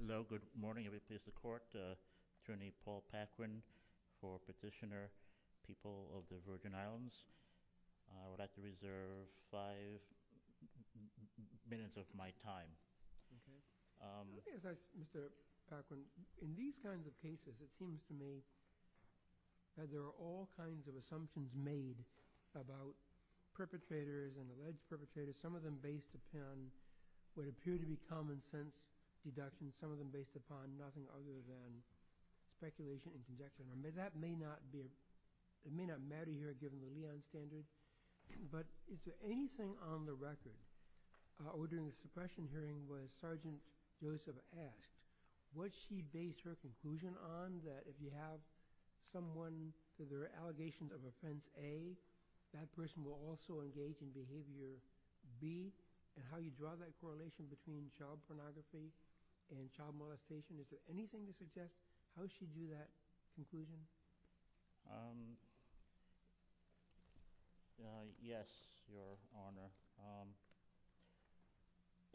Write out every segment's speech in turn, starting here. Hello. Good morning. If it pleases the Court, Attorney Paul Paquin for Petitioner, People of the Virgin Islands. I would like to reserve five minutes of my time. Mr. Paquin, in these kinds of cases, it seems to me that there are all kinds of assumptions made about perpetrators and alleged perpetrators, some of them based upon what appear to be common sense deductions, some of them based upon nothing other than speculation and conjecture. Now, that may not matter here, given the Leon standards, but is there anything on the record or during the suppression hearing where Sergeant Joseph asked, was she based her conclusion on that if you have someone with an allegation of Offense A, that person will also engage in Behavior B, and how you draw that correlation between child pornography and child molestation? Is there anything to suggest how she drew that conclusion? Yes, Your Honor.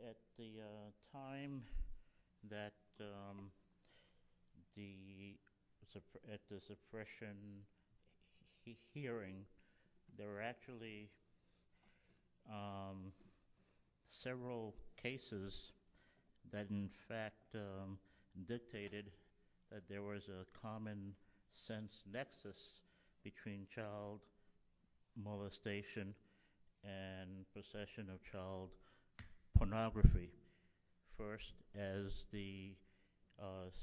At the time that the suppression hearing, there were actually several cases that in fact dictated that there was a common sense nexus between child molestation and possession of child pornography. First, as the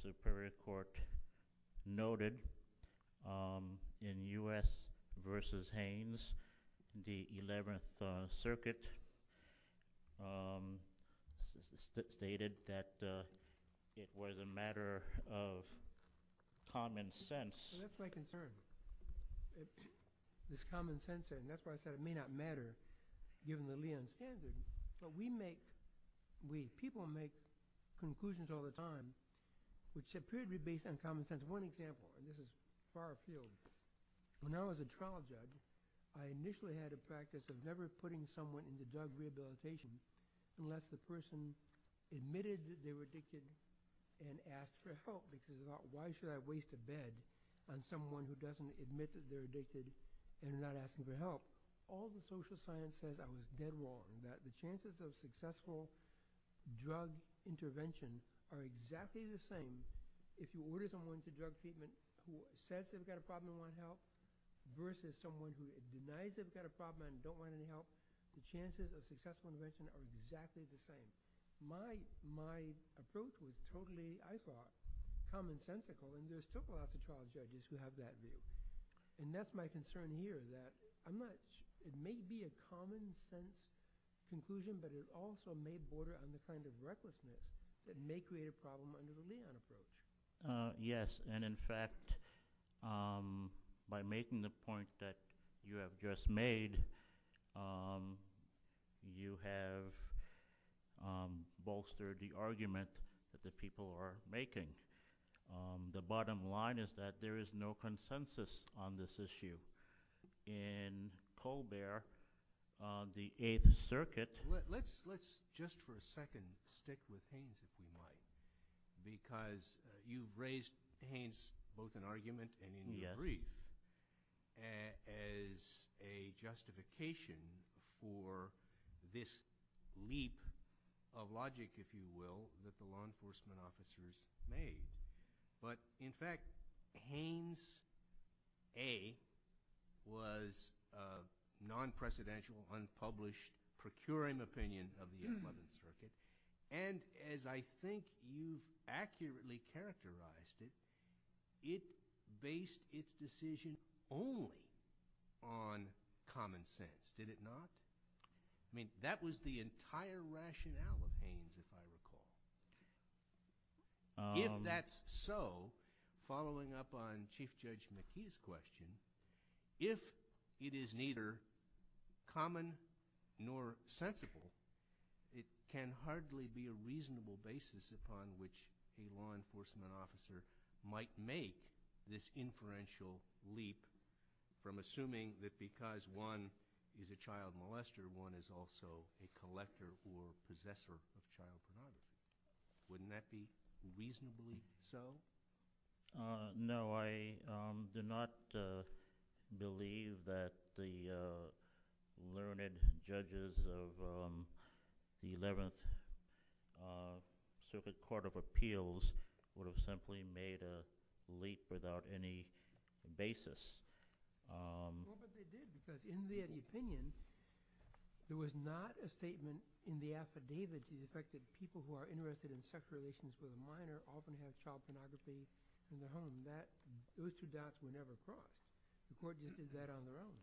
Superior Court noted, in U.S. v. Haines, the 11th Circuit stated that it was a matter of common sense. That's my concern. It's common sense, and that's why I said it may not matter, given the Leon standards. But we make, we people make conclusions all the time which appear to be based on common sense. As one example, and this is far appealed, when I was a trial judge, I initially had a practice of never putting someone into drug rehabilitation unless the person admitted that they were addicted and asked for help, which is about why should I waste a bed on someone who doesn't admit that they're addicted and is not asking for help. All the social science says I was dead wrong, that the chances of drug treatment who says they've got a problem and want help versus someone who denies they've got a problem and don't want any help, the chances of successful intervention are exactly the same. My approach was totally, I thought, common-sensical, and there are still a lot of trial judges who have that view. And that's my concern here, that it may be a common-sense conclusion, but it also may border on the kind of argument that people are making. And in fact, by making the point that you have just made, you have bolstered the argument that the people are making. The bottom line is that there is no consensus on this issue. In Colbert, the Eighth Circuit – Let's just for a second stick with Haynes, if you like, because you've raised Haynes both in argument and in the brief as a justification for this leap of logic, if you will, that the law enforcement officers made. But in fact, Haynes, A, was a non-precedential, unpublished, procuring opinion of the 11th Circuit. And as I think you accurately characterized it, it based its decision only on common sense, did it not? I mean, that was the entire rationale of Haynes, if I recall. If that's so, following up on Chief Judge McKee's question, if it is neither common nor sensible, it can hardly be a reasonable basis upon which a law enforcement officer might make this inferential leap from assuming that because one is a child molester, one is also a collector or possessor of child pornography. Wouldn't that be reasonably so? No, I do not believe that the learned judges of the 11th Circuit Court of Appeals would have simply made a leap without any basis. Well, but they did because in their opinion, there was not a statement in the affidavit to the effect that people who are interested in sexual relations with a minor often have child pornography in the home. That, there's two doubts we never saw. The court just did that on their own.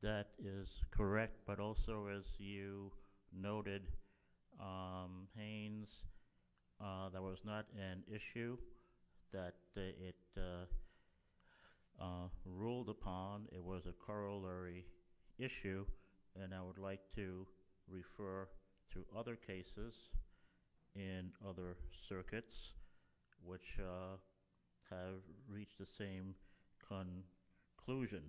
That is correct, but also as you noted, Haynes, that was not an issue that it ruled upon. It was a corollary issue, and I would like to refer to other cases in other circuits which have reached the same conclusion.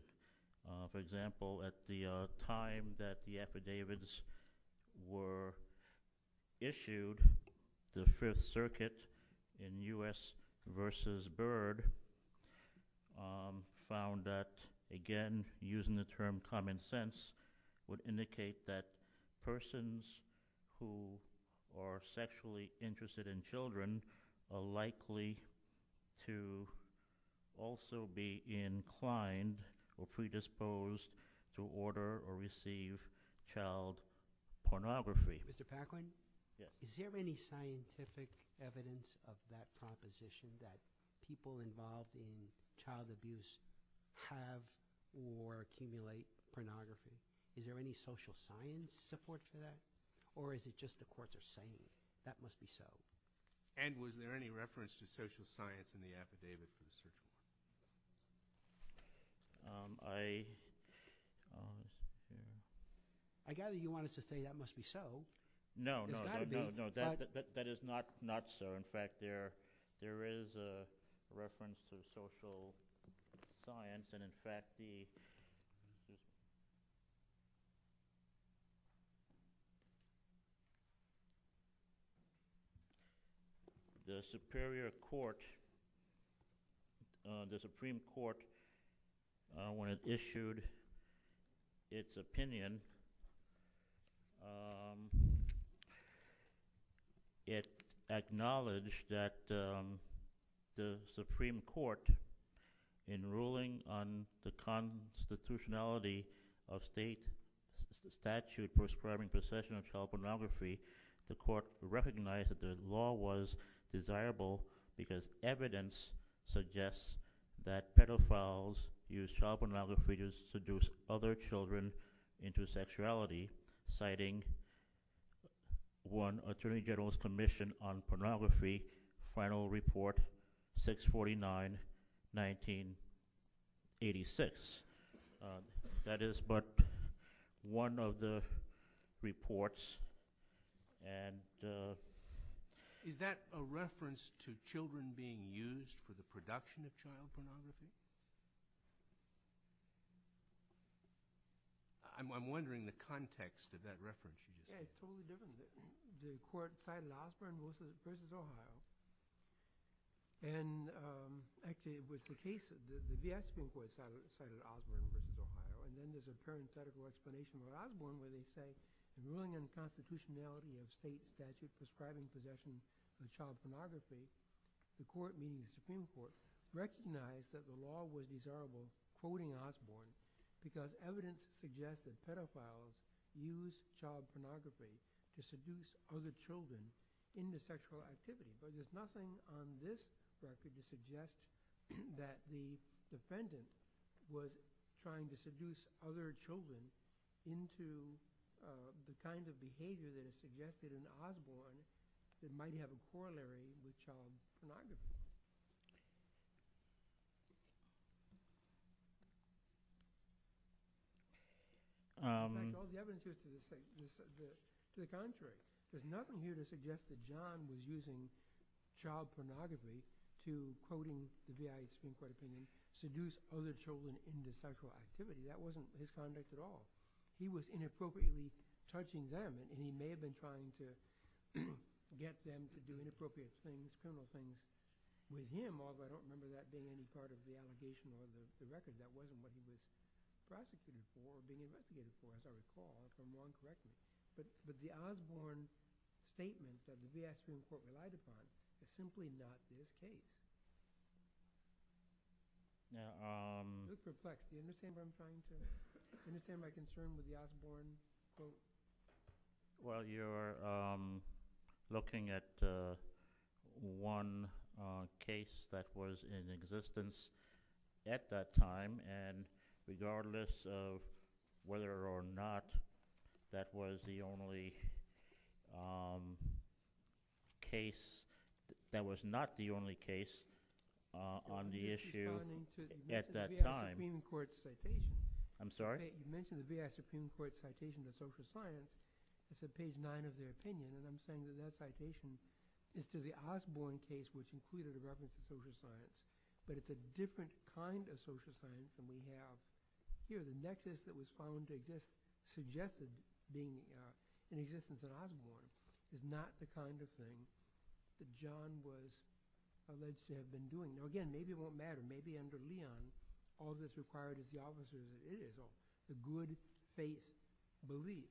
For example, at the time that the affidavits were issued, the Fifth Circuit in U.S. v. Byrd found that, again, using the term common sense would indicate that persons who are sexually interested in children are likely to also be inclined or predisposed to order or receive child pornography. Mr. Paklin? Yes. Is there any scientific evidence of that proposition that people involved in child abuse have or accumulate pornography? Is there any social science support for that, or is it just the courts are saying that must be so? And was there any reference to social science in the affidavit? I gather you wanted to say that must be so. No, no, no, no. That is not so. In fact, there is a reference to social science, and, in fact, the Supreme Court, when it issued its opinion, it acknowledged that the Supreme Court, in ruling on the constitutionality of state statute prescribing possession of child pornography, the Court recognized that the law was desirable because evidence suggests that pedophiles use child pornography to seduce other children into sexuality, citing one attorney general's commission on pornography, Final Report 649, 1986. That is but one of the reports. Is that a reference to children being used for the production of child pornography? I'm wondering the context of that reference. Yes. It's totally different. The court cited Osborne versus Ohio. And, actually, it was the case that the Supreme Court cited Osborne versus Ohio, and then there's a current federal explanation for Osborne where they say, in ruling on the constitutionality of state statute prescribing possession of child pornography, the Court, meaning the Supreme Court, recognized that the law was desirable, quoting Osborne, because evidence suggests that pedophiles use child pornography to seduce other children into sexual activity. But there's nothing on this statute to suggest that the defendant was trying to seduce other children into the kind of behavior that is suggested in Osborne that might have a corollary with child pornography. Michael, the evidence is to the contrary. There's nothing here to suggest that John was using child pornography to, quoting the VA Supreme Court opinion, seduce other children into sexual activity. That wasn't his conduct at all. He was inappropriately touching them, and he may have been trying to get them to do inappropriate things, criminal things with him, although I don't remember that being any part of the allegation or the record. That wasn't what he was prosecuting for or being investigated for, as I recall, from John's record. But the Osborne statement that the VA Supreme Court relied upon is simply not his case. Just to reflect, do you understand what I'm trying to say? Do you understand my concern with the Osborne quote? Well, you're looking at one case that was in existence at that time, and regardless of whether or not that was the only case, that was not the only case on the issue at that time. You mentioned the VA Supreme Court citation to social science. It's at page 9 of their opinion, and I'm saying that that citation is to the Osborne case, which included a reference to social science. But it's a different kind of social science than we have here. The nexus that was found that just suggested being in existence at Osborne is not the kind of thing that John was alleged to have been doing. Now, again, maybe it won't matter. Maybe under Leon, all that's required is the opposite of what it is, the good faith belief.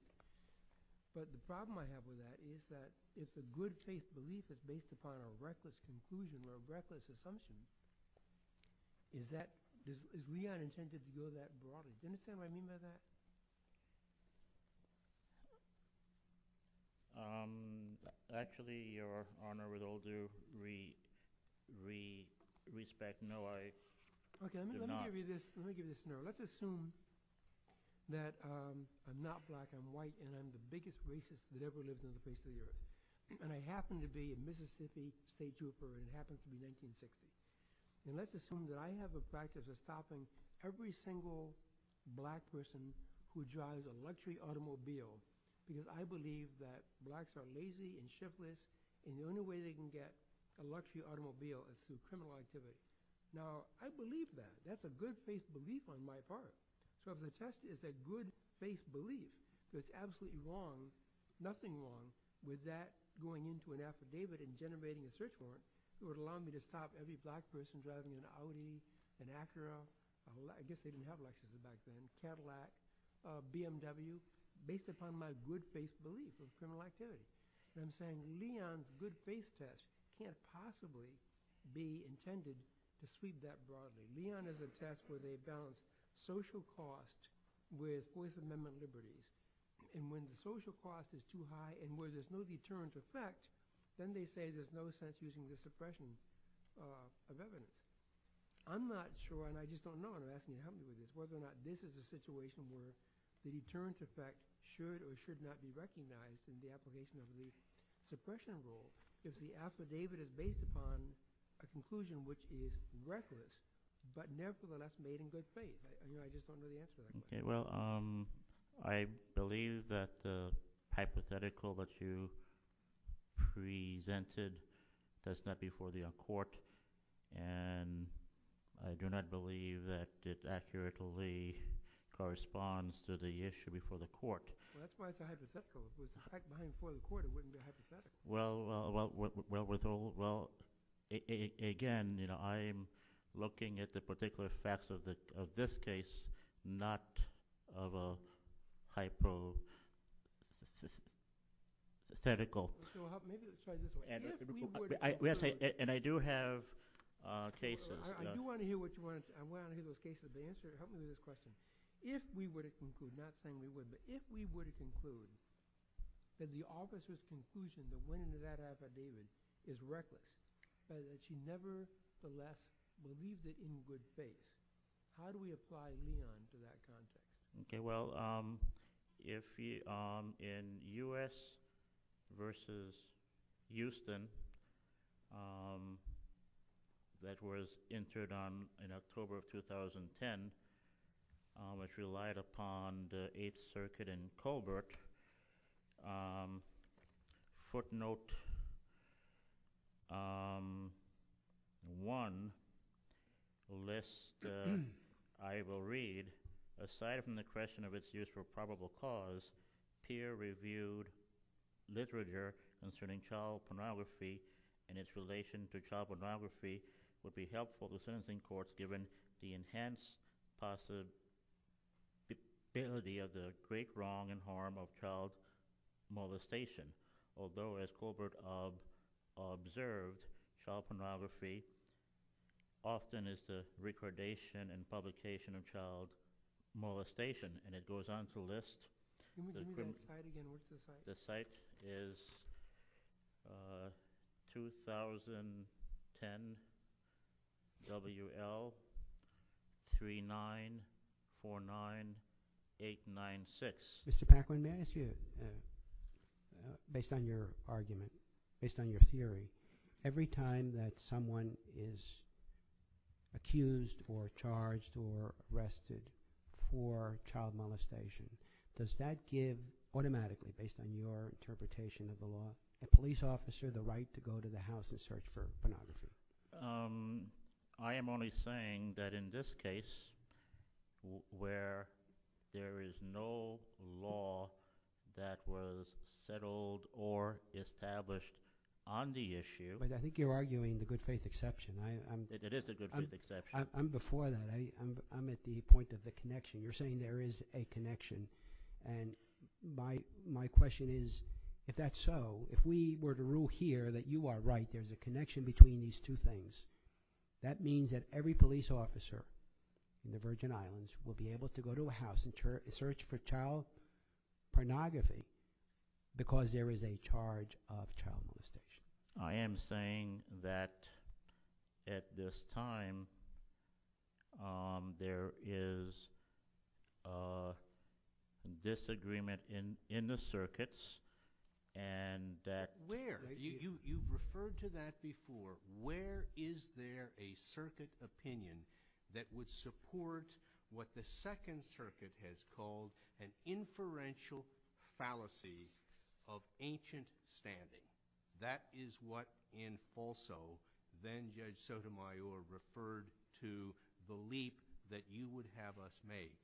But the problem I have with that is that if the good faith belief is based upon a reckless conclusion or a reckless assumption, is Leon intended to go that broader? Do you understand what I mean by that? Actually, Your Honor, with all due respect, no, I do not. Okay, let me give you this. Let me give you this now. Let's assume that I'm not black, I'm white, and I'm the biggest racist that ever lived in the face of the earth. And I happen to be a Mississippi state trooper, and it happens to be 1960. And let's assume that I have a practice of stopping every single black person who drives a luxury automobile because I believe that blacks are lazy and shiftless, and the only way they can get a luxury automobile is through criminal activity. Now, I believe that. That's a good faith belief on my part. So the test is a good faith belief. There's absolutely nothing wrong with that going into an affidavit and generating a search warrant that would allow me to stop every black person driving an Audi, an Acura, I guess they didn't have Lexus back then, Cadillac, BMW, based upon my good faith belief in criminal activity. And I'm saying Leon's good faith test can't possibly be intended to sweep that broadly. Leon is a test where they balance social cost with Fourth Amendment liberties. And when the social cost is too high and where there's no deterrent effect, then they say there's no sense using the suppression of evidence. I'm not sure, and I just don't know, and I'm asking you to help me with this, whether or not this is a situation where the deterrent effect should or should not be recognized in the application of the suppression rule because the affidavit is based upon a conclusion which is reckless. But nevertheless, made in good faith. I just don't know the answer to that. Well, I believe that the hypothetical that you presented does not before the court, and I do not believe that it accurately corresponds to the issue before the court. Well, that's why it's a hypothetical. If it was back before the court, it wouldn't be a hypothetical. Well, again, I'm looking at the particular facts of this case, not of a hypothetical. And I do have cases. I do want to hear what you want to answer. I want to hear the case of the answer. Help me with this question. If we would have concluded, not saying we would, but if we were to conclude that the officer's conclusion that went into that affidavit is reckless, that she never, nevertheless believed it in good faith, how do we apply Leon to that concept? Okay. Well, in U.S. v. Houston, that was entered in October of 2010, which relied upon the Eighth Circuit and Colbert, footnote one lists, I will read, aside from the question of its use for probable cause, peer-reviewed literature concerning child pornography and its relation to child pornography would be helpful to sentencing courts given the enhanced possibility of the great wrong and harm of child molestation. Although, as Colbert observed, child pornography often is the recordation and publication of child molestation. And it goes on to list, the site is 2010 W.L. 3949896. Mr. Packwin, may I ask you, based on your argument, based on your theory, every time that someone is accused or charged or arrested for child molestation, does that give automatically, based on your interpretation of the law, a police officer the right to go to the house and search for pornography? I am only saying that in this case, where there is no law that was settled or established on the issue. But I think you're arguing the good faith exception. It is a good faith exception. I'm before that. I'm at the point of the connection. You're saying there is a connection. And my question is, if that's so, if we were to rule here that you are right, that there is a connection between these two things, that means that every police officer in the Virgin Islands will be able to go to a house and search for child pornography because there is a charge of child molestation. I am saying that at this time, there is a disagreement in the circuits and that… I've heard that before. Where is there a circuit opinion that would support what the Second Circuit has called an inferential fallacy of ancient standing? That is what in Falso, then Judge Sotomayor referred to the leap that you would have us make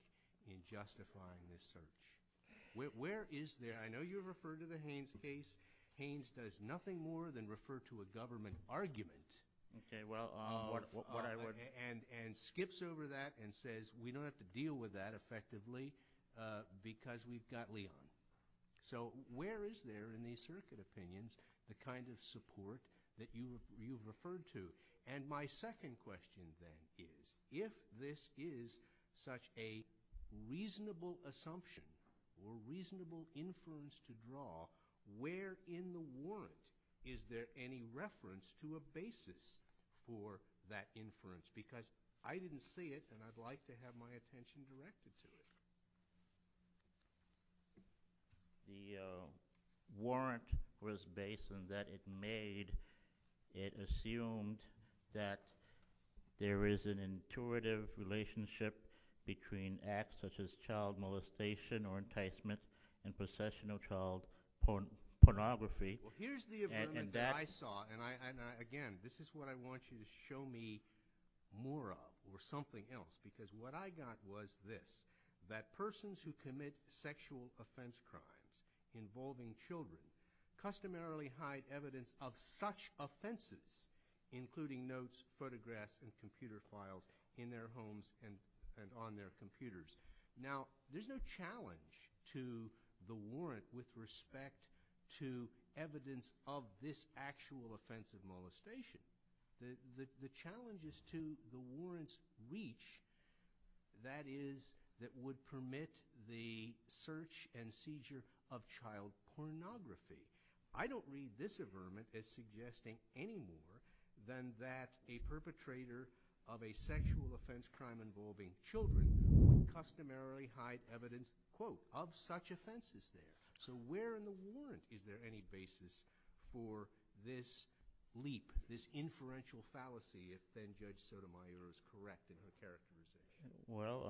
in justifying this search. Where is there – I know you referred to the Haynes case. Haynes does nothing more than refer to a government argument and skips over that and says, we don't have to deal with that effectively because we've got Leon. So where is there in these circuit opinions the kind of support that you've referred to? And my second question, then, is if this is such a reasonable assumption or reasonable inference to draw, where in the warrant is there any reference to a basis for that inference? Because I didn't say it and I'd like to have my attention directed to it. The warrant was based on that it made – it assumed that there is an intuitive relationship between acts such as child molestation or enticement and possession of child pornography. Well, here's the agreement that I saw. And again, this is what I want you to show me more of or something else because what I got was this, that persons who commit sexual offense crimes involving children customarily hide evidence of such offenses, including notes, photographs, and computer files in their homes and on their computers. Now, there's no challenge to the warrant with respect to evidence of this actual offense of molestation. The challenge is to the warrant's reach, that is, that would permit the search and seizure of child pornography. I don't read this averment as suggesting any more than that a perpetrator of a sexual offense crime involving children would customarily hide evidence, quote, of such offenses there. So where in the warrant is there any basis for this leap, this inferential fallacy, if then Judge Sotomayor is correct in her characterization? Well,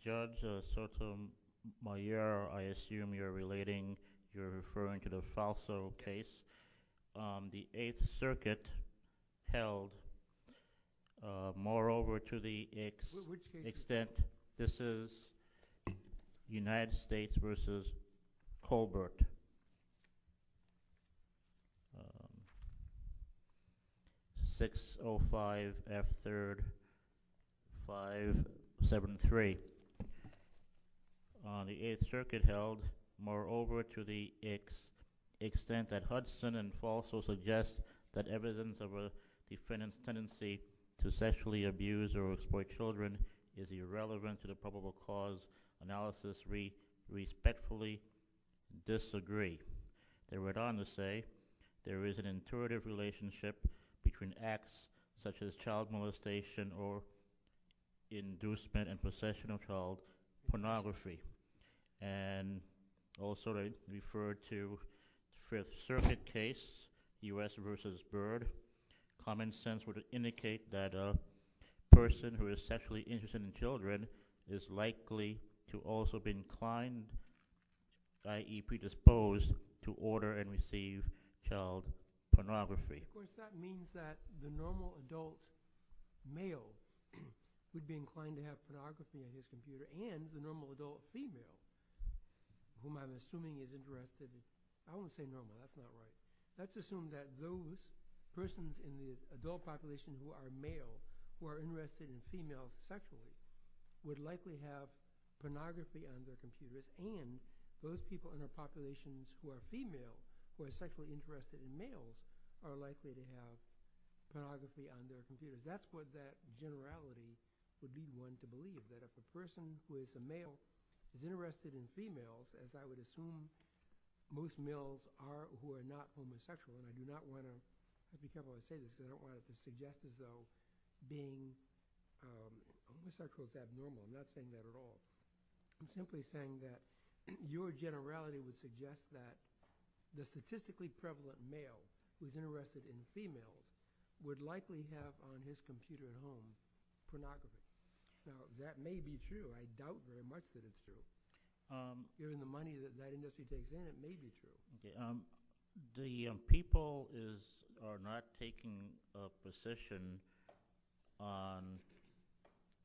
Judge Sotomayor, I assume you're relating, you're referring to the Falso case, the Eighth Circuit held. Moreover, to the extent this is United States versus Colbert. 605 F3rd 573. The Eighth Circuit held. Moreover, to the extent that Hudson and Falso suggest that evidence of a defendant's tendency to sexually abuse or analysis respectfully disagree. They went on to say there is an intuitive relationship between acts such as child molestation or inducement and possession of child pornography. And also referred to Fifth Circuit case, U.S. versus Byrd, common sense would indicate that a person who is sexually interested in children is likely to also be inclined, i.e., predisposed to order and receive child pornography. Of course, that means that the normal adult male would be inclined to have pornography on his computer and the normal adult female, whom I'm assuming is interested in, I won't say normal, that's not right. Let's assume that those persons in the adult population who are male, who are interested in females sexually, would likely have pornography on their computers. And those people in the populations who are female, who are sexually interested in males, are likely to have pornography on their computers. That's what that generality would be one to believe, that if a person who is a male is interested in females, as I would assume most males are who are not homosexual, and I do not want to, I just don't want to say this, I don't want to suggest as though being, I'm going to start with abnormal, I'm not saying that at all. I'm simply saying that your generality would suggest that the statistically prevalent male who is interested in females would likely have on his computer at home pornography. Now, that may be true. I doubt very much that it's true. Given the money that Nightingale City takes in, it may be true. The people are not taking a position on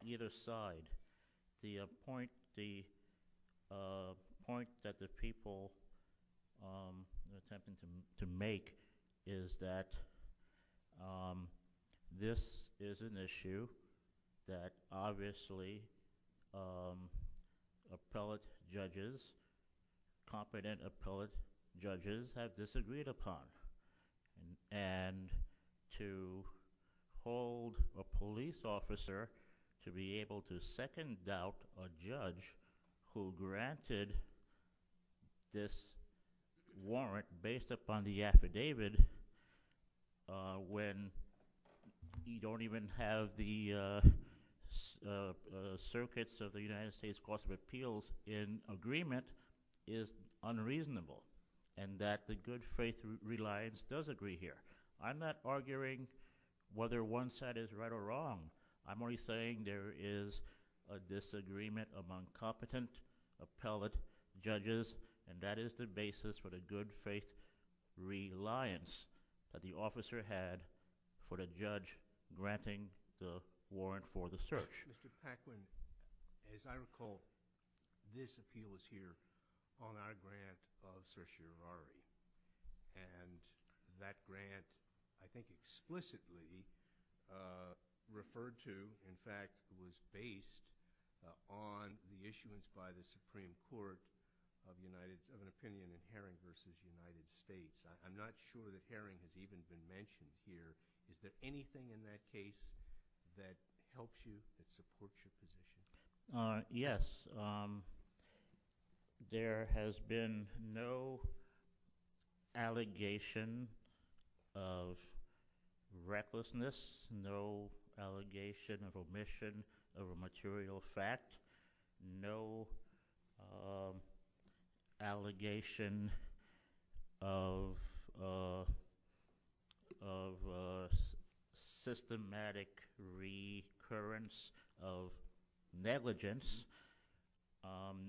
either side. The point that the people are attempting to make is that this is an issue that obviously appellate judges, competent appellate judges have disagreed upon. And to hold a police officer to be able to second doubt a judge who granted this warrant based upon the affidavit when you don't even have the circuits of the United States Court of Appeals in agreement is unreasonable. And that the good faith reliance does agree here. I'm not arguing whether one side is right or wrong. I'm only saying there is a disagreement among competent appellate judges, and that is the basis for the good faith reliance that the officer had for the judge granting the warrant for the search. Mr. Paquin, as I recall, this appeal is here on our grant of certiorari. And that grant I think explicitly referred to, in fact, was based on the issuance by the Supreme Court of an opinion in Haring v. United States. I'm not sure that Haring has even been mentioned here. Is there anything in that case that helps you to support your position? Yes. There has been no allegation of recklessness, no allegation of omission of a material fact, no allegation of systematic recurrence of negligence.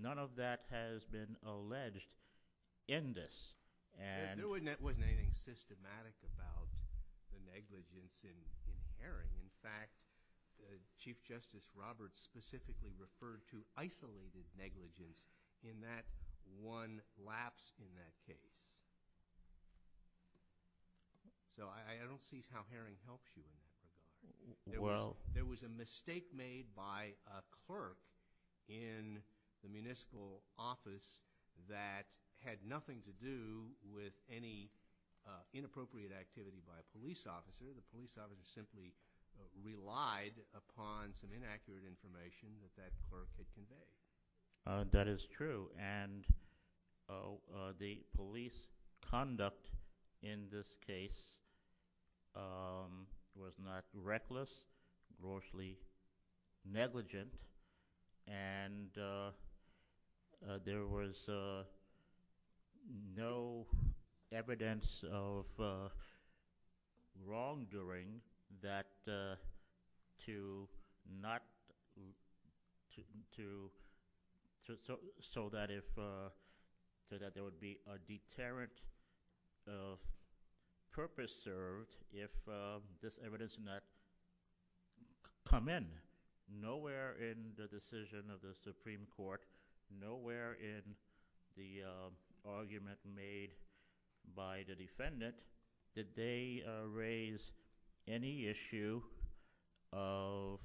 None of that has been alleged in this. There wasn't anything systematic about the negligence in Haring. In fact, Chief Justice Roberts specifically referred to isolated negligence in that one lapse in that case. So I don't see how Haring helps you. There was a mistake made by a clerk in the municipal office that had nothing to do with any inappropriate activity by a police officer. The police officer simply relied upon some inaccurate information that that clerk had conveyed. That is true. And the police conduct in this case was not reckless, mostly negligent. And there was no evidence of wrongdoing so that there would be a deterrent purpose served if this evidence did not come in. Nowhere in the decision of the Supreme Court, nowhere in the argument made by the defendant did they raise any issue of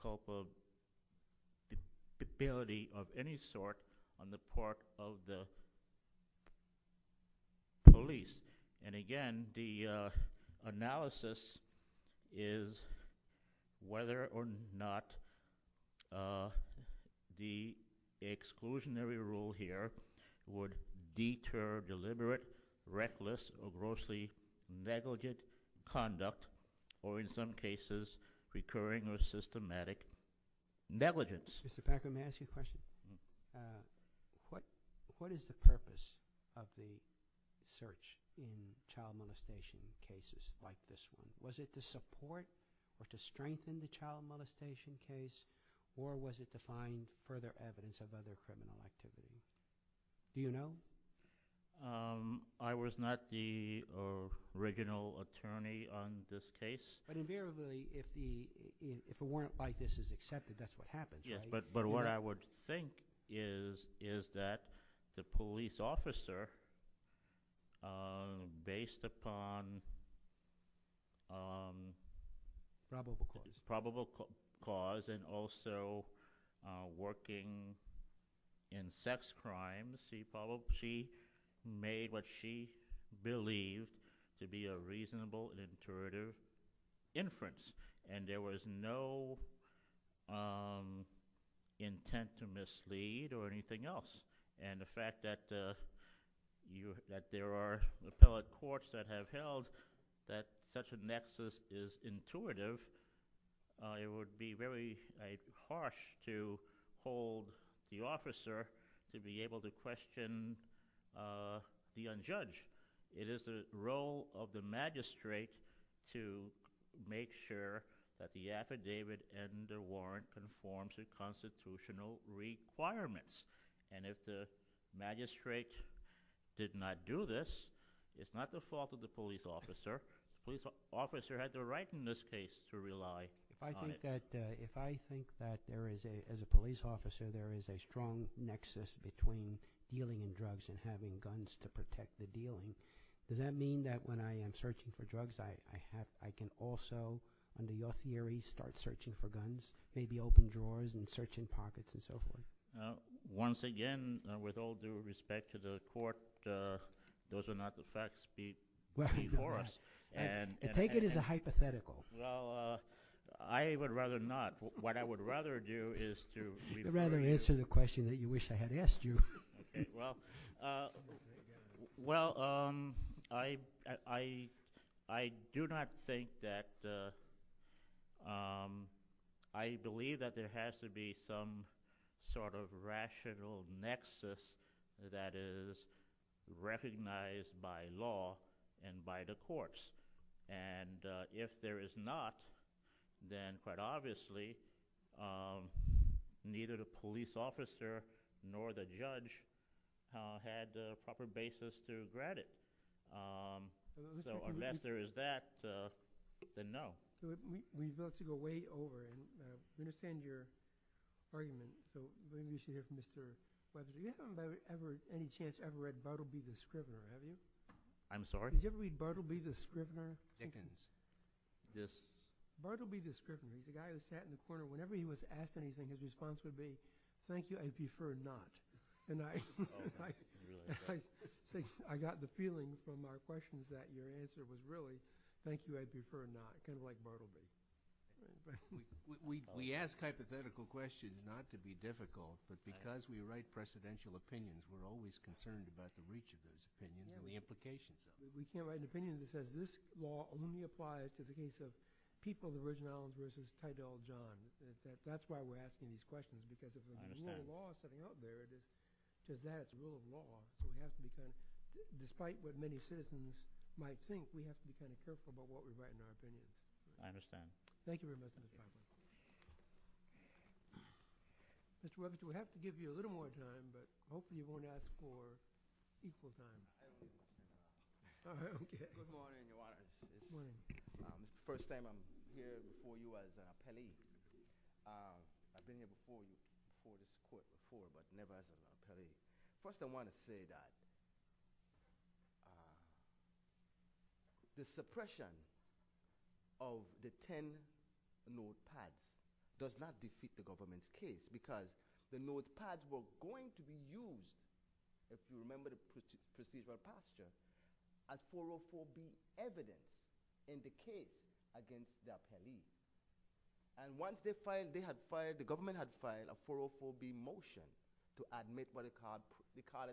culpability of any sort on the part of the police. And again, the analysis is whether or not the exclusionary rule here would deter deliberate, reckless, or grossly negligent conduct, or in some cases, recurring or systematic negligence. Mr. Packer, may I ask you a question? What is the purpose of the search in child molestation cases like this one? Was it to support or to strengthen the child molestation case, or was it to find further evidence of other criminal activity? Do you know? I was not the original attorney on this case. But invariably, if a warrant like this is accepted, that's what happens. Yes, but what I would think is that the police officer, based upon probable cause and also working in sex crimes, she made what she believed to be a reasonable and intuitive inference. And there was no intent to mislead or anything else. And the fact that there are appellate courts that have held that such a nexus is intuitive, it would be very harsh to hold the officer to be able to question the unjudged. It is the role of the magistrate to make sure that the affidavit and the warrant conform to constitutional requirements. And if the magistrate did not do this, it's not the fault of the police officer. The police officer had the right in this case to rely on it. If I think that there is, as a police officer, there is a strong nexus between dealing in drugs and having guns to protect the dealing, does that mean that when I am searching for drugs, I can also, under your theory, start searching for guns? Maybe open drawers and searching pockets and so forth? Once again, with all due respect to the court, those are not the facts before us. Take it as a hypothetical. Well, I would rather not. What I would rather do is to— I'd rather answer the question that you wish I had asked you. Well, I do not think that—I believe that there has to be some sort of rational nexus that is recognized by law and by the courts. And if there is not, then quite obviously, neither the police officer nor the judge had a proper basis to regret it. So unless there is that, then no. We've got to go way over. I understand your argument, so maybe we should hear from Mr. Webber. You haven't by any chance ever read Bartleby the Scrivener, have you? I'm sorry? Did you ever read Bartleby the Scrivener? Dickens. Bartleby the Scrivener, the guy who sat in the corner, whenever he was asked anything, his response would be, Thank you, I'd prefer not. And I got the feeling from our questions that your answer was really, thank you, I'd prefer not, kind of like Bartleby. We ask hypothetical questions not to be difficult, but because we write precedential opinions, we're always concerned about the reach of those opinions and the implications of them. We can't write an opinion that says this law only applies to the case of people of the Virgin Islands versus Tydell John. That's why we're asking these questions, because if there's a rule of law sitting out there that says that, it's a rule of law, it has to be kind of – despite what many citizens might think, we have to be kind of careful about what we write in our opinions. I understand. Thank you very much for your time. Mr. Robertson, we have to give you a little more time, but hopefully you won't ask for equal time. I do. All right, okay. Good morning, Your Honor. Good morning. First time I'm here before you as an appellee. I've been here before before, but never as an appellee. First, I want to say that the suppression of the 10 notepads does not defeat the government's case, because the notepads were going to be used, if you remember the procedural pasture, as 404B evidence in the case against the appellees. And once they had filed – the government had filed a 404B motion to admit what we call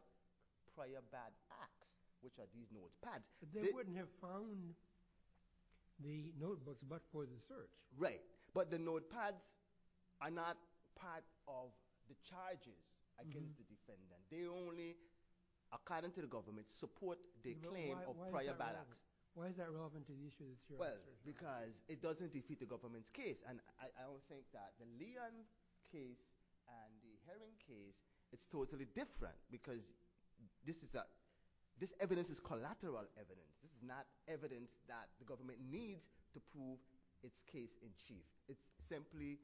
prior bad acts, which are these notepads. But they wouldn't have found the notebooks, but for the search. Right, but the notepads are not part of the charges against the defendants. They only, according to the government, support the claim of prior bad acts. Why is that relevant to the issue? Well, because it doesn't defeat the government's case, and I don't think that the Leon case and the Herring case is totally different, because this evidence is collateral evidence. This is not evidence that the government needs to prove its case in chief. It's simply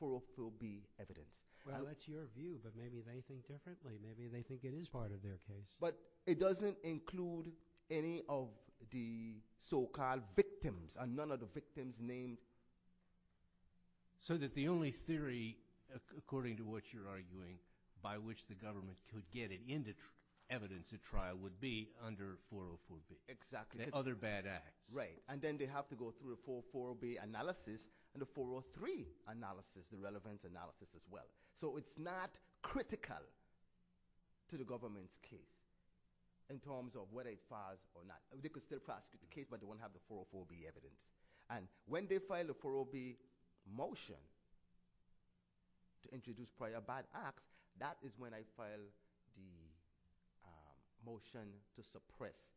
404B evidence. Well, that's your view, but maybe they think differently. Maybe they think it is part of their case. But it doesn't include any of the so-called victims, and none of the victims' names. So that the only theory, according to what you're arguing, by which the government could get it into evidence at trial would be under 404B. Exactly. The other bad acts. Right, and then they have to go through a 404B analysis, and a 403 analysis, the relevance analysis as well. So it's not critical to the government's case in terms of whether it files or not. They could still prosecute the case, but they won't have the 404B evidence. And when they file a 404B motion to introduce prior bad acts, that is when I file the motion to suppress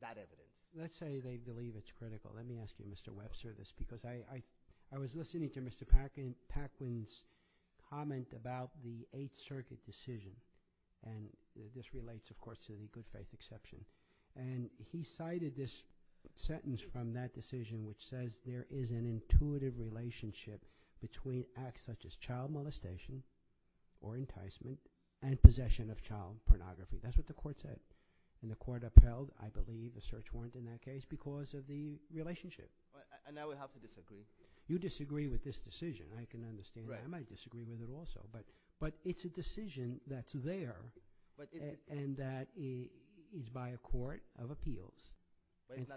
that evidence. Let's say they believe it's critical. Let me ask you, Mr. Webservice, because I was listening to Mr. Paquin's comment about the Eighth Circuit decision. And this relates, of course, to the good faith exception. And he cited this sentence from that decision, which says there is an intuitive relationship between acts such as child molestation or enticement and possession of child pornography. That's what the court said. And the court upheld, I believe, a search warrant in that case because of the relationship. And I would have to disagree. You disagree with this decision. I can understand that. I might disagree with it also. But it's a decision that's there and that is by a court of appeals.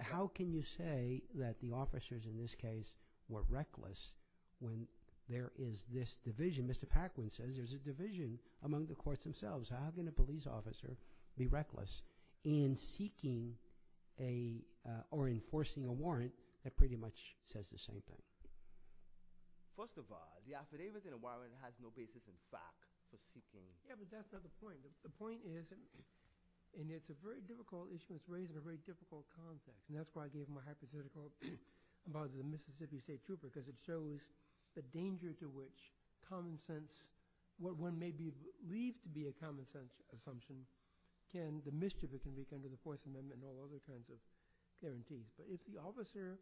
How can you say that the officers in this case were reckless when there is this division? Mr. Paquin says there's a division among the courts themselves. How can a police officer be reckless in seeking or enforcing a warrant that pretty much says the same thing? First of all, the affidavit in a warrant has no basis in fact for seeking. Yeah, but that's not the point. The point is, and it's a very difficult issue. It's raised in a very difficult context. And that's why I gave my hypothetical about the Mississippi State Trooper because it shows the danger to which common sense, what one may believe to be a common sense assumption, the mischief it can wreak under the Fourth Amendment and all other kinds of guarantees. But if the officer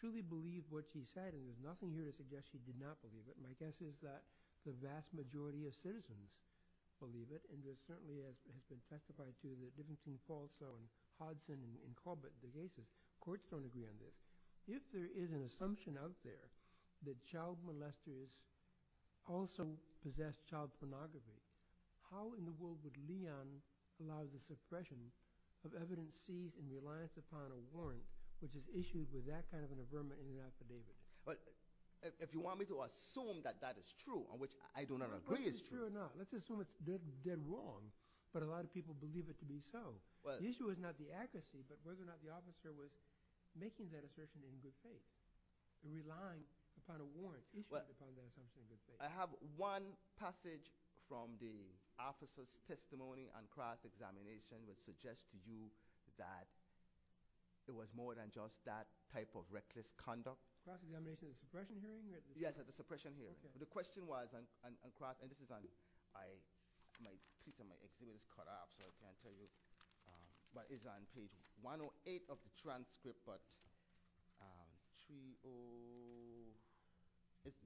truly believed what she said, and there's nothing here to suggest she did not believe it, my guess is that the vast majority of citizens believe it. And it certainly has been testified to that it didn't seem false on Hodson and Corbett. The courts don't agree on this. If there is an assumption out there that child molesters also possess child pornography, how in the world would Leon allow the suppression of evidence seized in reliance upon a warrant which is issued with that kind of an affirmative affidavit? But if you want me to assume that that is true, on which I do not agree, it's true. Whether it's true or not, let's assume it's dead wrong, but a lot of people believe it to be so. The issue is not the accuracy, but whether or not the officer was making that assertion in good faith, relying upon a warrant issued upon that assumption in good faith. I have one passage from the officer's testimony on cross-examination which suggests to you that there was more than just that type of reckless conduct. Cross-examination, the suppression hearing? Yes, the suppression hearing. The question was, and this is on page 108 of the transcript,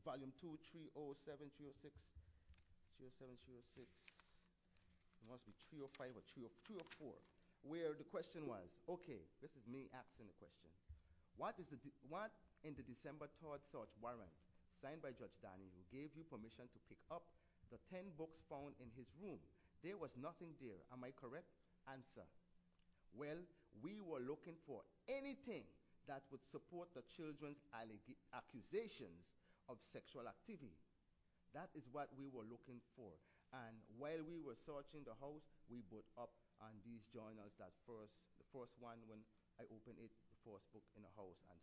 volume 2, 307-306. Where the question was, okay, this is me asking the question, what in the December 3rd search warrant signed by Judge Daniels gave you permission to pick up the 10 books found in his room? There was nothing there. Am I correct? Answer, well, we were looking for anything that would support the children's accusations of sexual activity. That is what we were looking for. And while we were searching the house, we brought up on these joiners, the first one, when I opened it, the first book in the house, and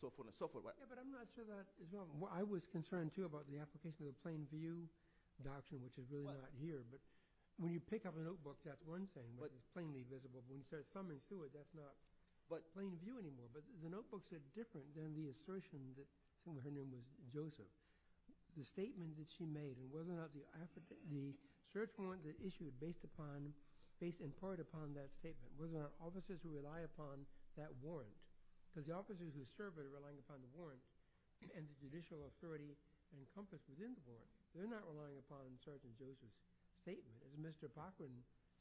so forth and so forth. But I'm not sure that – I was concerned, too, about the application of the plain view doctrine, which is really not here. But when you pick up a notebook, that's one thing, plainly visible. When you start coming to it, that's not plain view anymore. But the notebooks are different than the assertions that were handed to Joseph. The statement that she made, and whether or not the search warrant was issued based in part upon that statement, whether or not officers who rely upon that warrant – because the officers who serve it are relying upon the warrant, and the judicial authority encompasses in the warrant. They're not relying upon Sergeant Davis' statement. As Mr. Bachman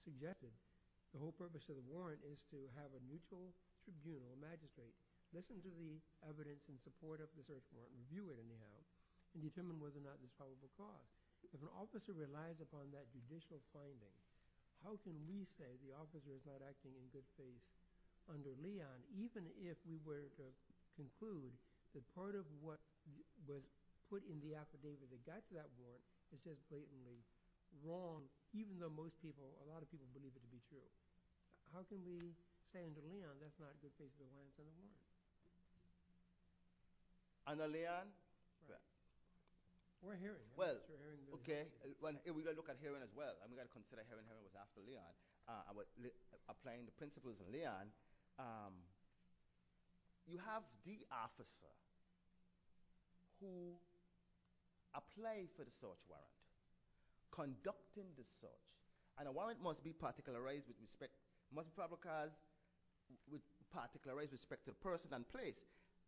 suggested, the whole purpose of the warrant is to have a mutual review, a magistrate. Listen to the evidence in support of the search warrant and view it in the house and determine whether or not it's probable fraud. If an officer relies upon that judicial finding, how can we say the officer is not actually in good faith under Leon, even if we were to conclude that part of what was put in the affidavit that got to that warrant is just blatantly wrong, even though most people, a lot of people believe it to be true? How can we say under Leon that's not a good case of a warrant for Leon? Under Leon? We're hearing. Well, okay. We've got to look at hearing as well. We've got to consider hearing whether or not it was after Leon. Applying the principles of Leon, you have the officer who applied for the search warrant, conducting the search, and a warrant must be particularized with respect to person and place.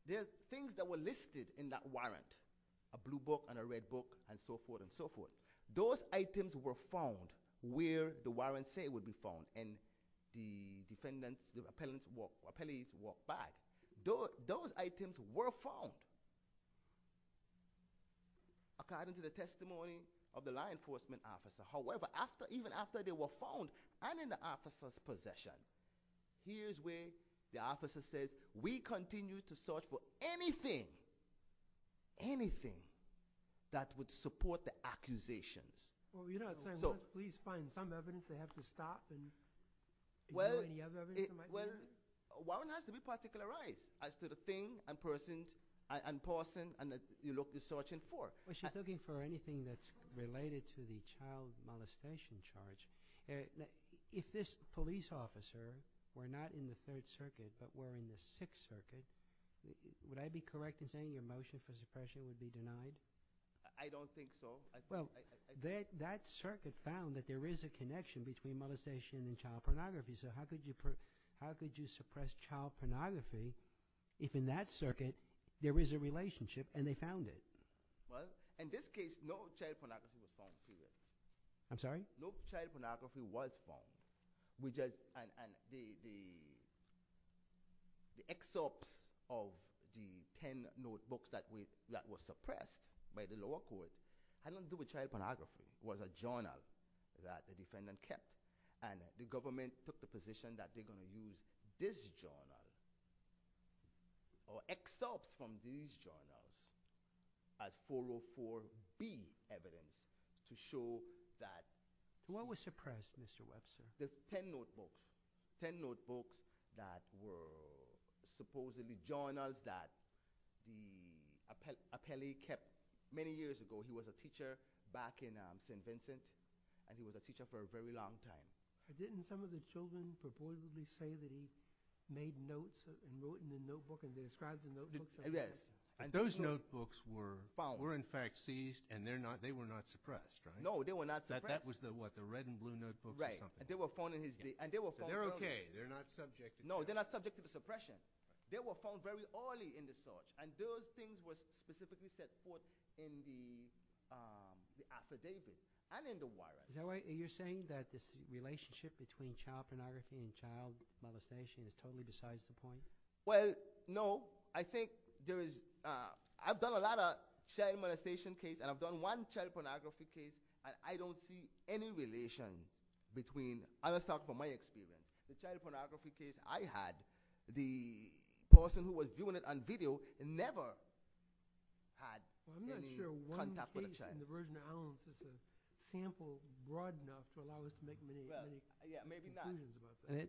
There's things that were listed in that warrant, a blue book and a red book and so forth and so forth. Those items were found where the warrants say would be found in the defendant's, the appellee's walk by. Those items were found according to the testimony of the law enforcement officer. However, even after they were found and in the officer's possession, here's where the officer says, we continue to search for anything, anything that would support the accusations. Well, you're not saying, please find some evidence they have to stop and do any other evidence? Well, a warrant has to be particularized as to the thing and person and that you're searching for. Well, she's looking for anything that's related to the child molestation charge. If this police officer were not in the Third Circuit but were in the Sixth Circuit, would I be correct in saying your motion for suppression would be denied? I don't think so. Well, that circuit found that there is a connection between molestation and child pornography. So how could you suppress child pornography if in that circuit there is a relationship and they found it? Well, in this case, no child pornography was found here. I'm sorry? No child pornography was found. We just, and the excerpts of the ten notebooks that were suppressed by the lower court had nothing to do with child pornography. It was a journal that the defendant kept and the government took the position that they're going to use this journal or excerpts from these journals as follow-up for B evidence to show that- What was suppressed, Mr. Webster? The ten notebooks, ten notebooks that were supposedly journals that the appellee kept many years ago. He was a teacher back in St. Vincent, and he was a teacher for a very long time. But didn't some of the children supposedly say that he made notes and wrote in the notebook and described the notebook? Yes. Those notebooks were in fact seized and they were not suppressed, right? No, they were not suppressed. That was the what, the red and blue notebook or something? Right. They were found early. They're okay. They're not subject to- No, they're not subject to suppression. They were found very early in the search, and those things were specifically set forth in the affidavit and in the warrant. Is that right? Are you saying that this relationship between child pornography and child molestation is totally besides the point? Well, no. I think there is- I've done a lot of child molestation case, and I've done one child pornography case, and I don't see any relation between- Let's talk from my experience. The child pornography case I had, the person who was doing it on video never had any contact with a child. I'm not sure one thing in the Virgin Islands is a sample broad enough to allow us to make many conclusions about that.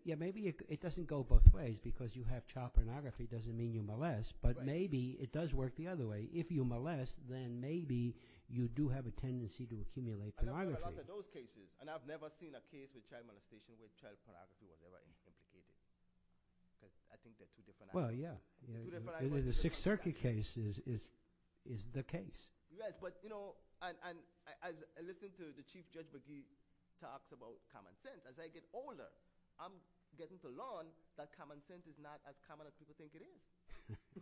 Yeah, maybe it doesn't go both ways because you have child pornography doesn't mean you molest, but maybe it does work the other way. If you molest, then maybe you do have a tendency to accumulate pornography. I've done a lot of those cases, and I've never seen a case with child molestation where child pornography was ever incriminated. I think they're two different aspects. Well, yeah. The Sixth Circuit case is the case. Yes, but as I listen to the Chief Judge McGee talks about common sense, as I get older, I'm getting to learn that common sense is not as common as people think it is.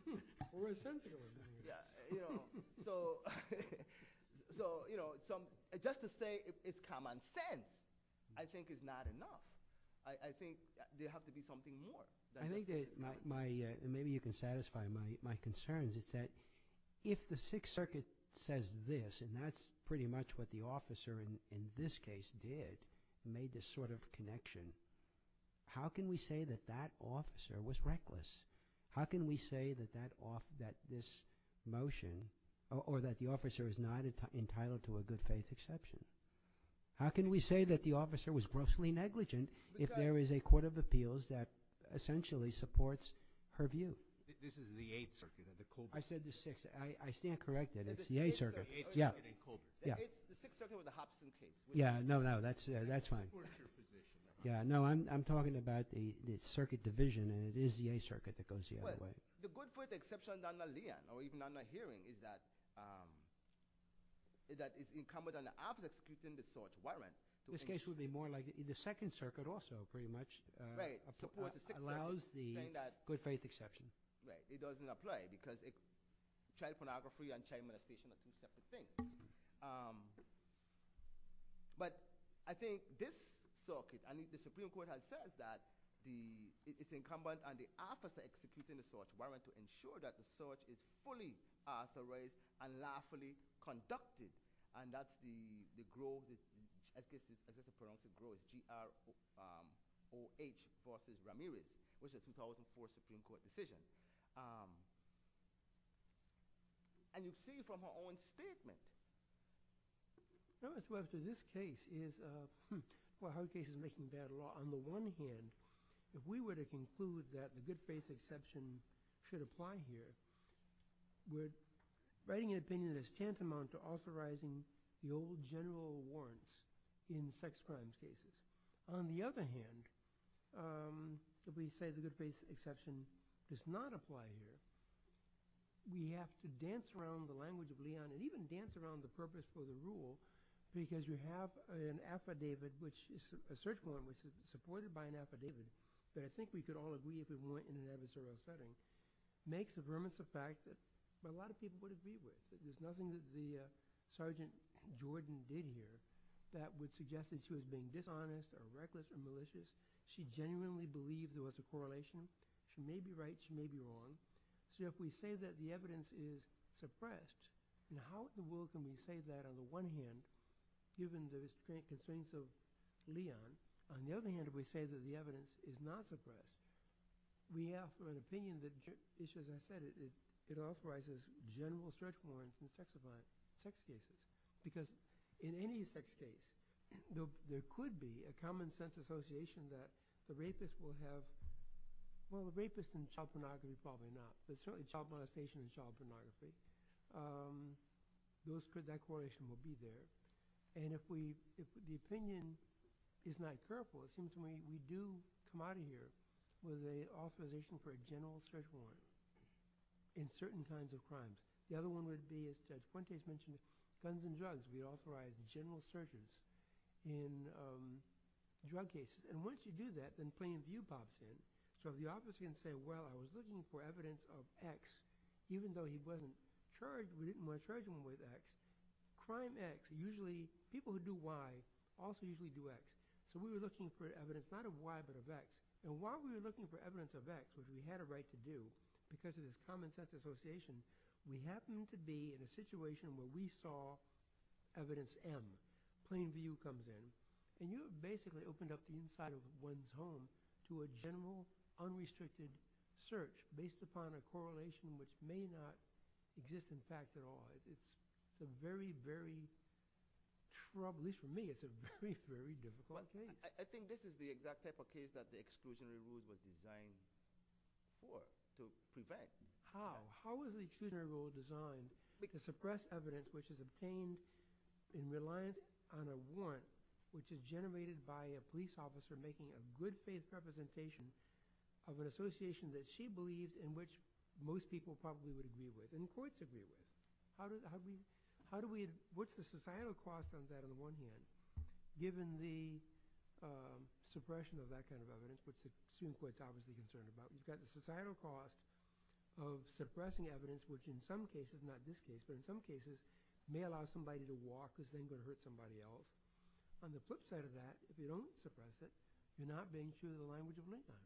Well, we're sensitive about that. Yeah. So just to say it's common sense I think is not enough. I think there has to be something more. Maybe you can satisfy my concerns. It's that if the Sixth Circuit says this, and that's pretty much what the officer in this case did, made this sort of connection, how can we say that that officer was reckless? How can we say that this motion or that the officer is not entitled to a good faith exception? How can we say that the officer was grossly negligent if there is a court of appeals that essentially supports her view? This is the Eighth Circuit. I said the Sixth. I stand corrected. It's the Eighth Circuit. Yeah. The Sixth Circuit was a Hobson case. Yeah, no, no, that's fine. Yeah, no, I'm talking about the Circuit Division, and it is the Eighth Circuit that goes the other way. The good faith exception under Leon or even under hearing is that it's incumbent on the officer executing the sort warrant. This case would be more like the Second Circuit also pretty much allows the good faith exception. Right. It doesn't apply because child pornography and child molestation are two separate things. But I think this circuit, I mean, the Supreme Court has said that it's incumbent on the officer executing the sort warrant to ensure that the sort is fully authorized and lawfully conducted, and that the grove is, as they say, as they pronounce the grove, G-R-O-H versus Ramirez, which is a 2004 Supreme Court decision. And you see it from her own statement. No, it's left to this case. Well, her case is making bad law. On the one hand, if we were to conclude that the good faith exception should apply here, we're writing an opinion that is tantamount to authorizing the old general warrants in sex crime cases. On the other hand, if we say the good faith exception does not apply here, we have to dance around the language of Leon and even dance around the purpose for the rule because you have an affidavit, a search warrant, which is supported by an affidavit that I think we could all agree is a warrant in an adversarial setting, makes a vermince of fact that a lot of people would agree with. There's nothing that the Sergeant Jordan did here that was suggested to have been dishonest or reckless or malicious. She genuinely believed there was a correlation. She may be right. She may be wrong. So if we say that the evidence is suppressed, how in the world can we say that on the one hand, given the concerns of Leon? On the other hand, if we say that the evidence is not suppressed, we ask for an opinion that, as I said, it authorizes general search warrants in sex cases. Because in any sex case, there could be a common sense association that the rapist will have – well, the rapist in child pornography is probably not, but certainly child monetization and child demonetization, that correlation will be there. And if the opinion is not careful, it seems to me we do come out of here with an authorization for a general search warrant in certain kinds of crimes. The other one would be, as Quente mentioned, guns and drugs. We authorize general searches in drug cases. And once you do that, then plain view pops in. So if the officer is going to say, well, I was looking for evidence of X, even though he wasn't charged with X, crime X usually – people who do Y also usually do X. So we were looking for evidence not of Y but of X. And while we were looking for evidence of X, because we had a right to do, because of this common sense association, we happened to be in a situation where we saw evidence M. Plain view comes in. And you basically opened up the inside of one's home to a general, unrestricted search based upon a correlation which may not exist in fact at all. It's a very, very – at least for me, it's a very, very difficult case. I think this is the exact type of case that the exclusionary rule was designed for, to prevent. How? How was the exclusionary rule designed to suppress evidence which is obtained in reliance on a warrant which is generated by a police officer making a good faith representation of an association that she believed in which most people probably would agree with and courts agree with? How do we – what's the societal cost of that on the one hand, given the suppression of that kind of evidence, which the Supreme Court is obviously concerned about? We've got the societal cost of suppressing evidence, which in some cases – not this case, but in some cases may allow somebody to walk because then you're going to hurt somebody else. On the flip side of that, if you don't suppress it, you're not being true to the language of mankind.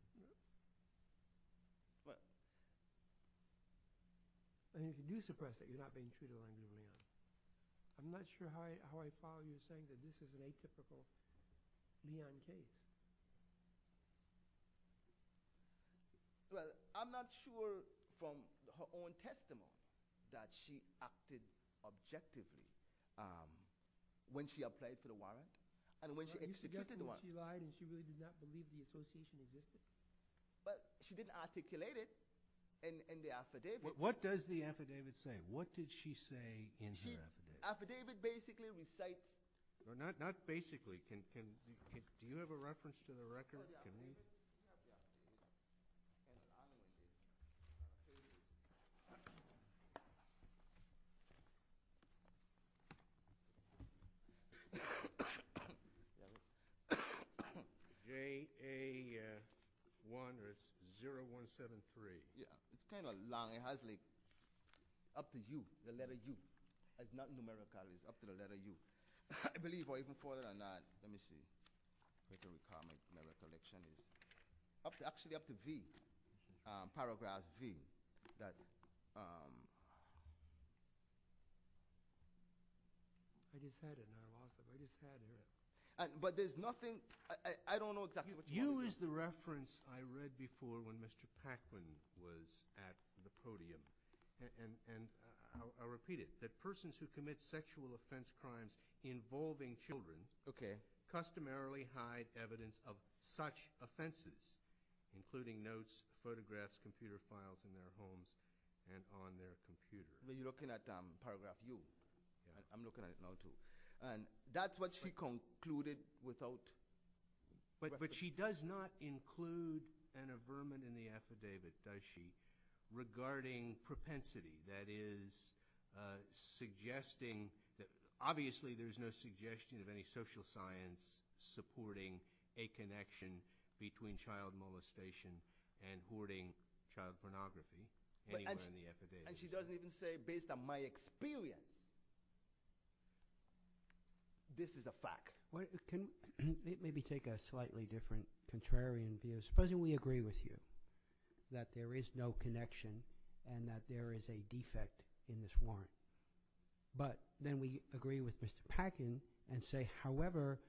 What? If you do suppress it, you're not being true to the language of mankind. I'm not sure how I follow you in saying that this is an atypical neon case. Well, I'm not sure from her own testimony that she acted objectively when she applied for the warrant and when she executed the warrant. Are you suggesting she lied and she really did not believe the association existed? But she didn't articulate it in the affidavit. What does the affidavit say? What did she say in the affidavit? The affidavit basically recites – Not basically. Oh, yeah. Oh, yeah. JA1-0173. Yeah, it's kind of long. It has like up to U, the letter U. It's not numerical. It's up to the letter U. I believe, or even further than that, let me see. Actually, up to V. Paragraph V. But there's nothing – I don't know exactly what's happening. Use the reference I read before when Mr. Paquin was at the podium. I'll repeat it. That persons who commit sexual offense crimes involving children customarily hide evidence of such offenses, including notes, photographs, computer files in their homes and on their computers. You're looking at paragraph U. I'm looking at it now, too. That's what she concluded without – But she does not include an averment in the affidavit, does she, regarding propensity? That is, suggesting – obviously, there's no suggestion of any social science supporting a connection between child molestation and hoarding child pornography anywhere in the affidavit. And she doesn't even say, based on my experience, this is a fact. Can we maybe take a slightly different contrarian view? Supposing we agree with you that there is no connection and that there is a defect in this warrant. But then we agree with Mr. Paquin and say, however,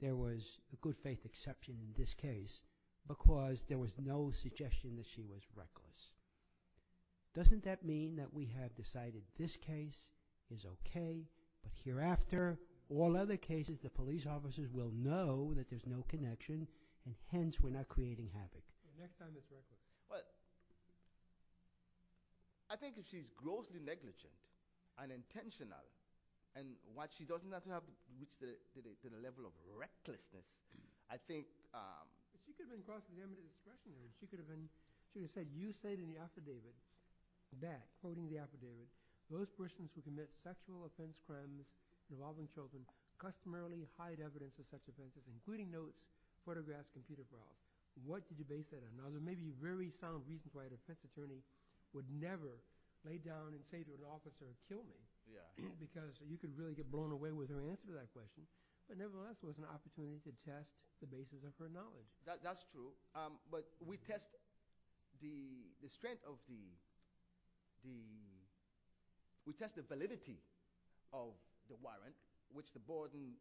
there was a good faith exception in this case because there was no suggestion that she was reckless. Doesn't that mean that we have decided this case is okay, but hereafter, all other cases, the police officers will know that there's no connection and hence we're not creating havoc? The next time it's reckless. Well, I think if she's grossly negligent, unintentional, and while she does not have to reach to the level of recklessness, I think – She could have been crossing the eminent discretionary. She could have said, you stated in the affidavit that, quoting the affidavit, those persons who commit sexual offense crimes involving children customarily hide evidence of such offenses, including notes, photographs, and computer files. What could you base that on? Now, there may be very sound reasons why an offense attorney would never lay down and say to an officer, kill me, because you could really get blown away with her answer to that question. But nevertheless, it was an opportunity to test the basis of her knowledge. That's true. But we test the strength of the – we test the validity of the warrant, which the burden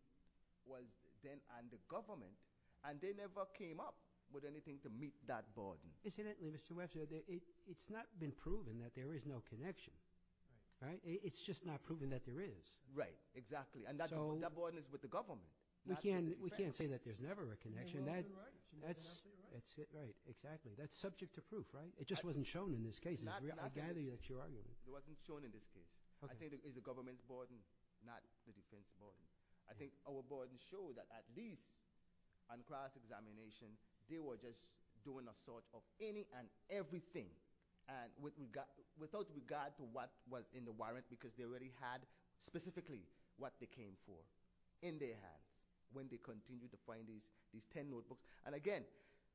was then on the government, and they never came up with anything to meet that burden. Incidentally, Mr. Webster, it's not been proven that there is no connection. It's just not proven that there is. Right, exactly. And that burden is with the government. We can't say that there's never a connection. That's it, right. Exactly. That's subject to proof, right? It just wasn't shown in this case. I gather that you're arguing. It wasn't shown in this case. I think it is the government's burden, not the defense's burden. I think our burden shows that at least on class examination, they were just doing a sort of any and everything, without regard to what was in the warrant, because they already had specifically what they came for in their hands. When they continue to find these 10 notebooks – and again,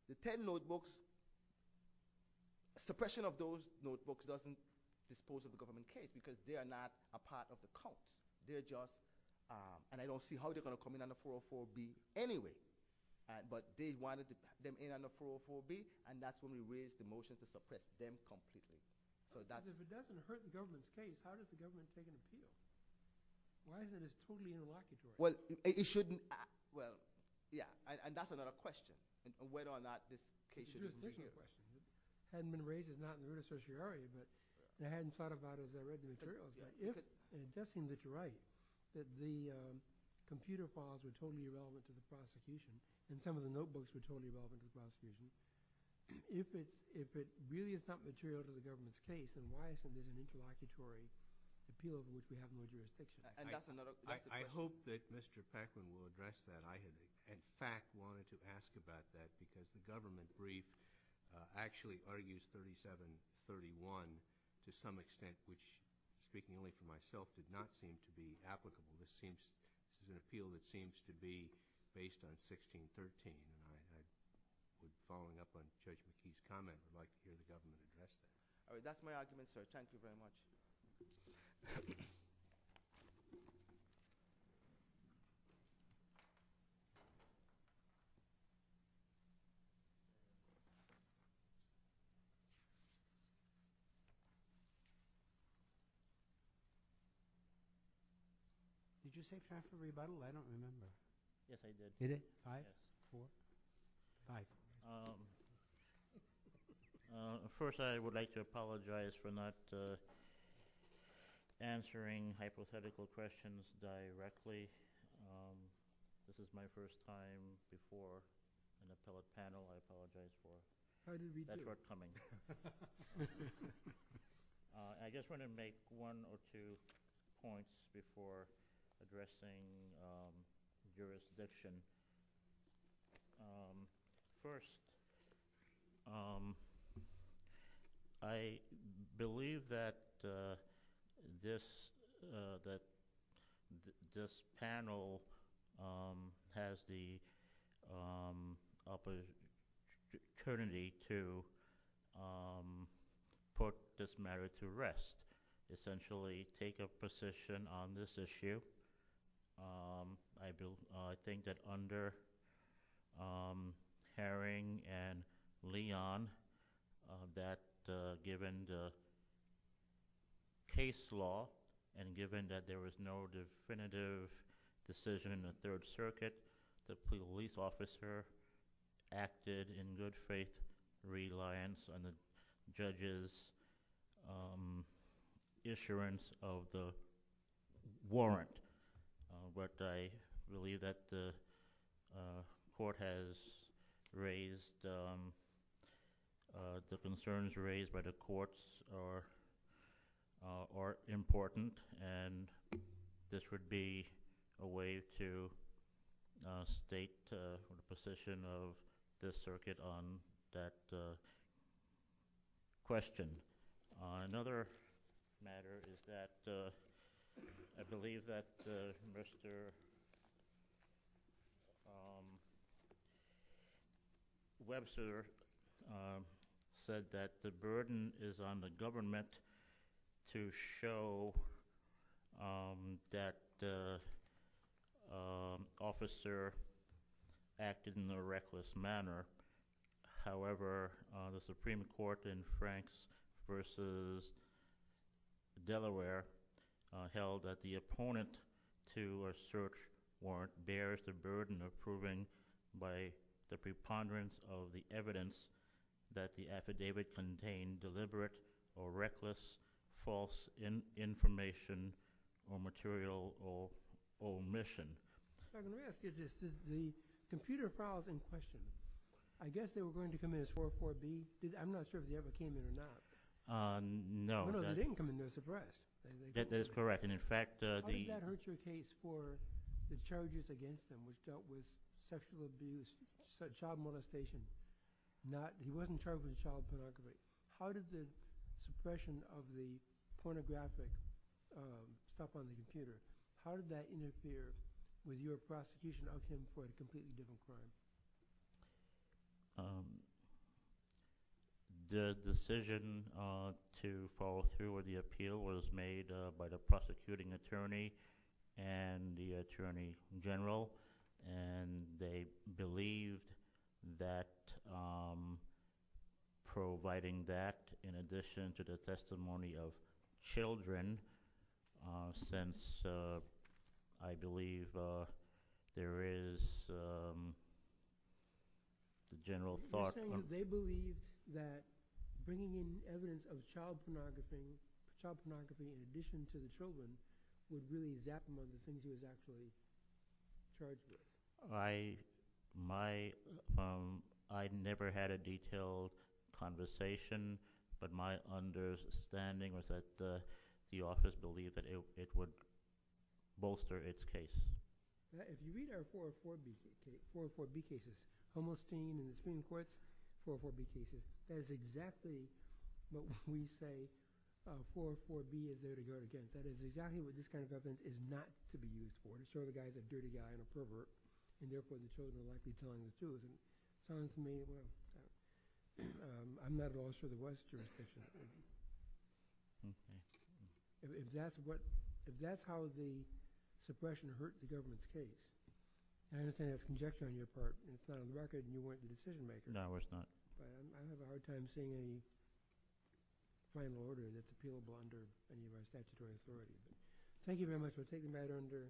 the 10 notebooks, suppression of those notebooks doesn't dispose of the government case because they are not a part of the count. They're just – and I don't see how they're going to come in under 404B anyway. But they wanted to put them in under 404B, and that's when we raised the motion to suppress them completely. So that's – If it doesn't hurt the government's faith, how does the government take it as serious? Why is it as fully irreliable? Well, it shouldn't – well, yeah. And that's another question on whether or not this case should be – You're just making a question. It hadn't been raised. It's not in the written certiorari, but they hadn't thought about it as they read the materials. But if – and it does seem that you're right, that the computer files are totally irrelevant to the prosecution and some of the notebooks were totally irrelevant to the prosecution. If it really is not material to the government's faith, then why is there an interlocutory appeal to which you have no jurisdiction? And that's another – I hope that Mr. Pakman will address that. I had, in fact, wanted to ask about that because the government brief actually argues 3731 to some extent, which, speaking only for myself, did not seem to be applicable. This seems – this is an appeal that seems to be based on 1613. And I had been following up on Mr. Chayky's comments about the way the government addressed that. All right. That's my argument, sir. Thank you very much. Thank you. Did you say practical rebuttal? I don't remember. Yes, I did. Did you? Hi. Hi. First, I would like to apologize for not answering hypothetical questions directly. This is my first time before in a tele-panel. I apologize for that forthcoming. I just want to make one or two points before addressing jurisdiction. First, I believe that this panel has the opportunity to put this matter to rest, essentially take a position on this issue. I think that under Haring and Leon, that given the case law and given that there was no definitive decision in the Third Circuit, the police officer acted in good faith reliance on the judge's assurance of the warrant. But I believe that the court has raised the concerns raised by the courts are important. And this would be a way to state the position of this circuit on that question. Another matter is that I believe that Mr. Webster said that the burden is on the government to show that the officer acted in a reckless manner. However, the Supreme Court in Franks v. Delaware held that the opponent to a search warrant bears the burden of proving by the preponderance of the evidence that the affidavit contained deliberate or reckless false information or material omission. I'm going to ask you this. The computer files in question, I guess they were going to come in as 404-B. I'm not sure if they ever came in or not. No. No, they didn't come in there to suppress. That is correct. How did that hurt your case for the charges against him which dealt with sexual abuse, child molestation? He wasn't charged with child pornography. How did the suppression of the pornographic stuff on the computer, how did that interfere? Were you a prosecution of him for a completely different crime? The decision to follow through with the appeal was made by the prosecuting attorney and the attorney general. They believe that providing that in addition to the testimony of children since I believe there is a general thought... I never had a detailed conversation but my understanding was that the office believed that it would bolster its case. If you read our 404-B cases, that is exactly what we say 404-B is there to go against. That is exactly what this kind of evidence is not to be used for. I'm sure the guy is a dirty guy and a pervert and therefore the case may not be telling the truth. I'm not at all sure there was jurisdiction. If that is how the suppression hurt the government's case, I understand that is conjecture on your part. But on record you weren't the decision maker. No, of course not. I don't have a hard time seeing any final order that is appealable under any of our statutory authorities. Thank you very much. We will take you back under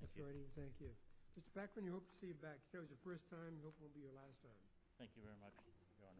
authority. Thank you. Mr. Backlund, we hope to see you back. It was your first time and hopefully it will be your last time. Thank you very much. Thank you. Thank you.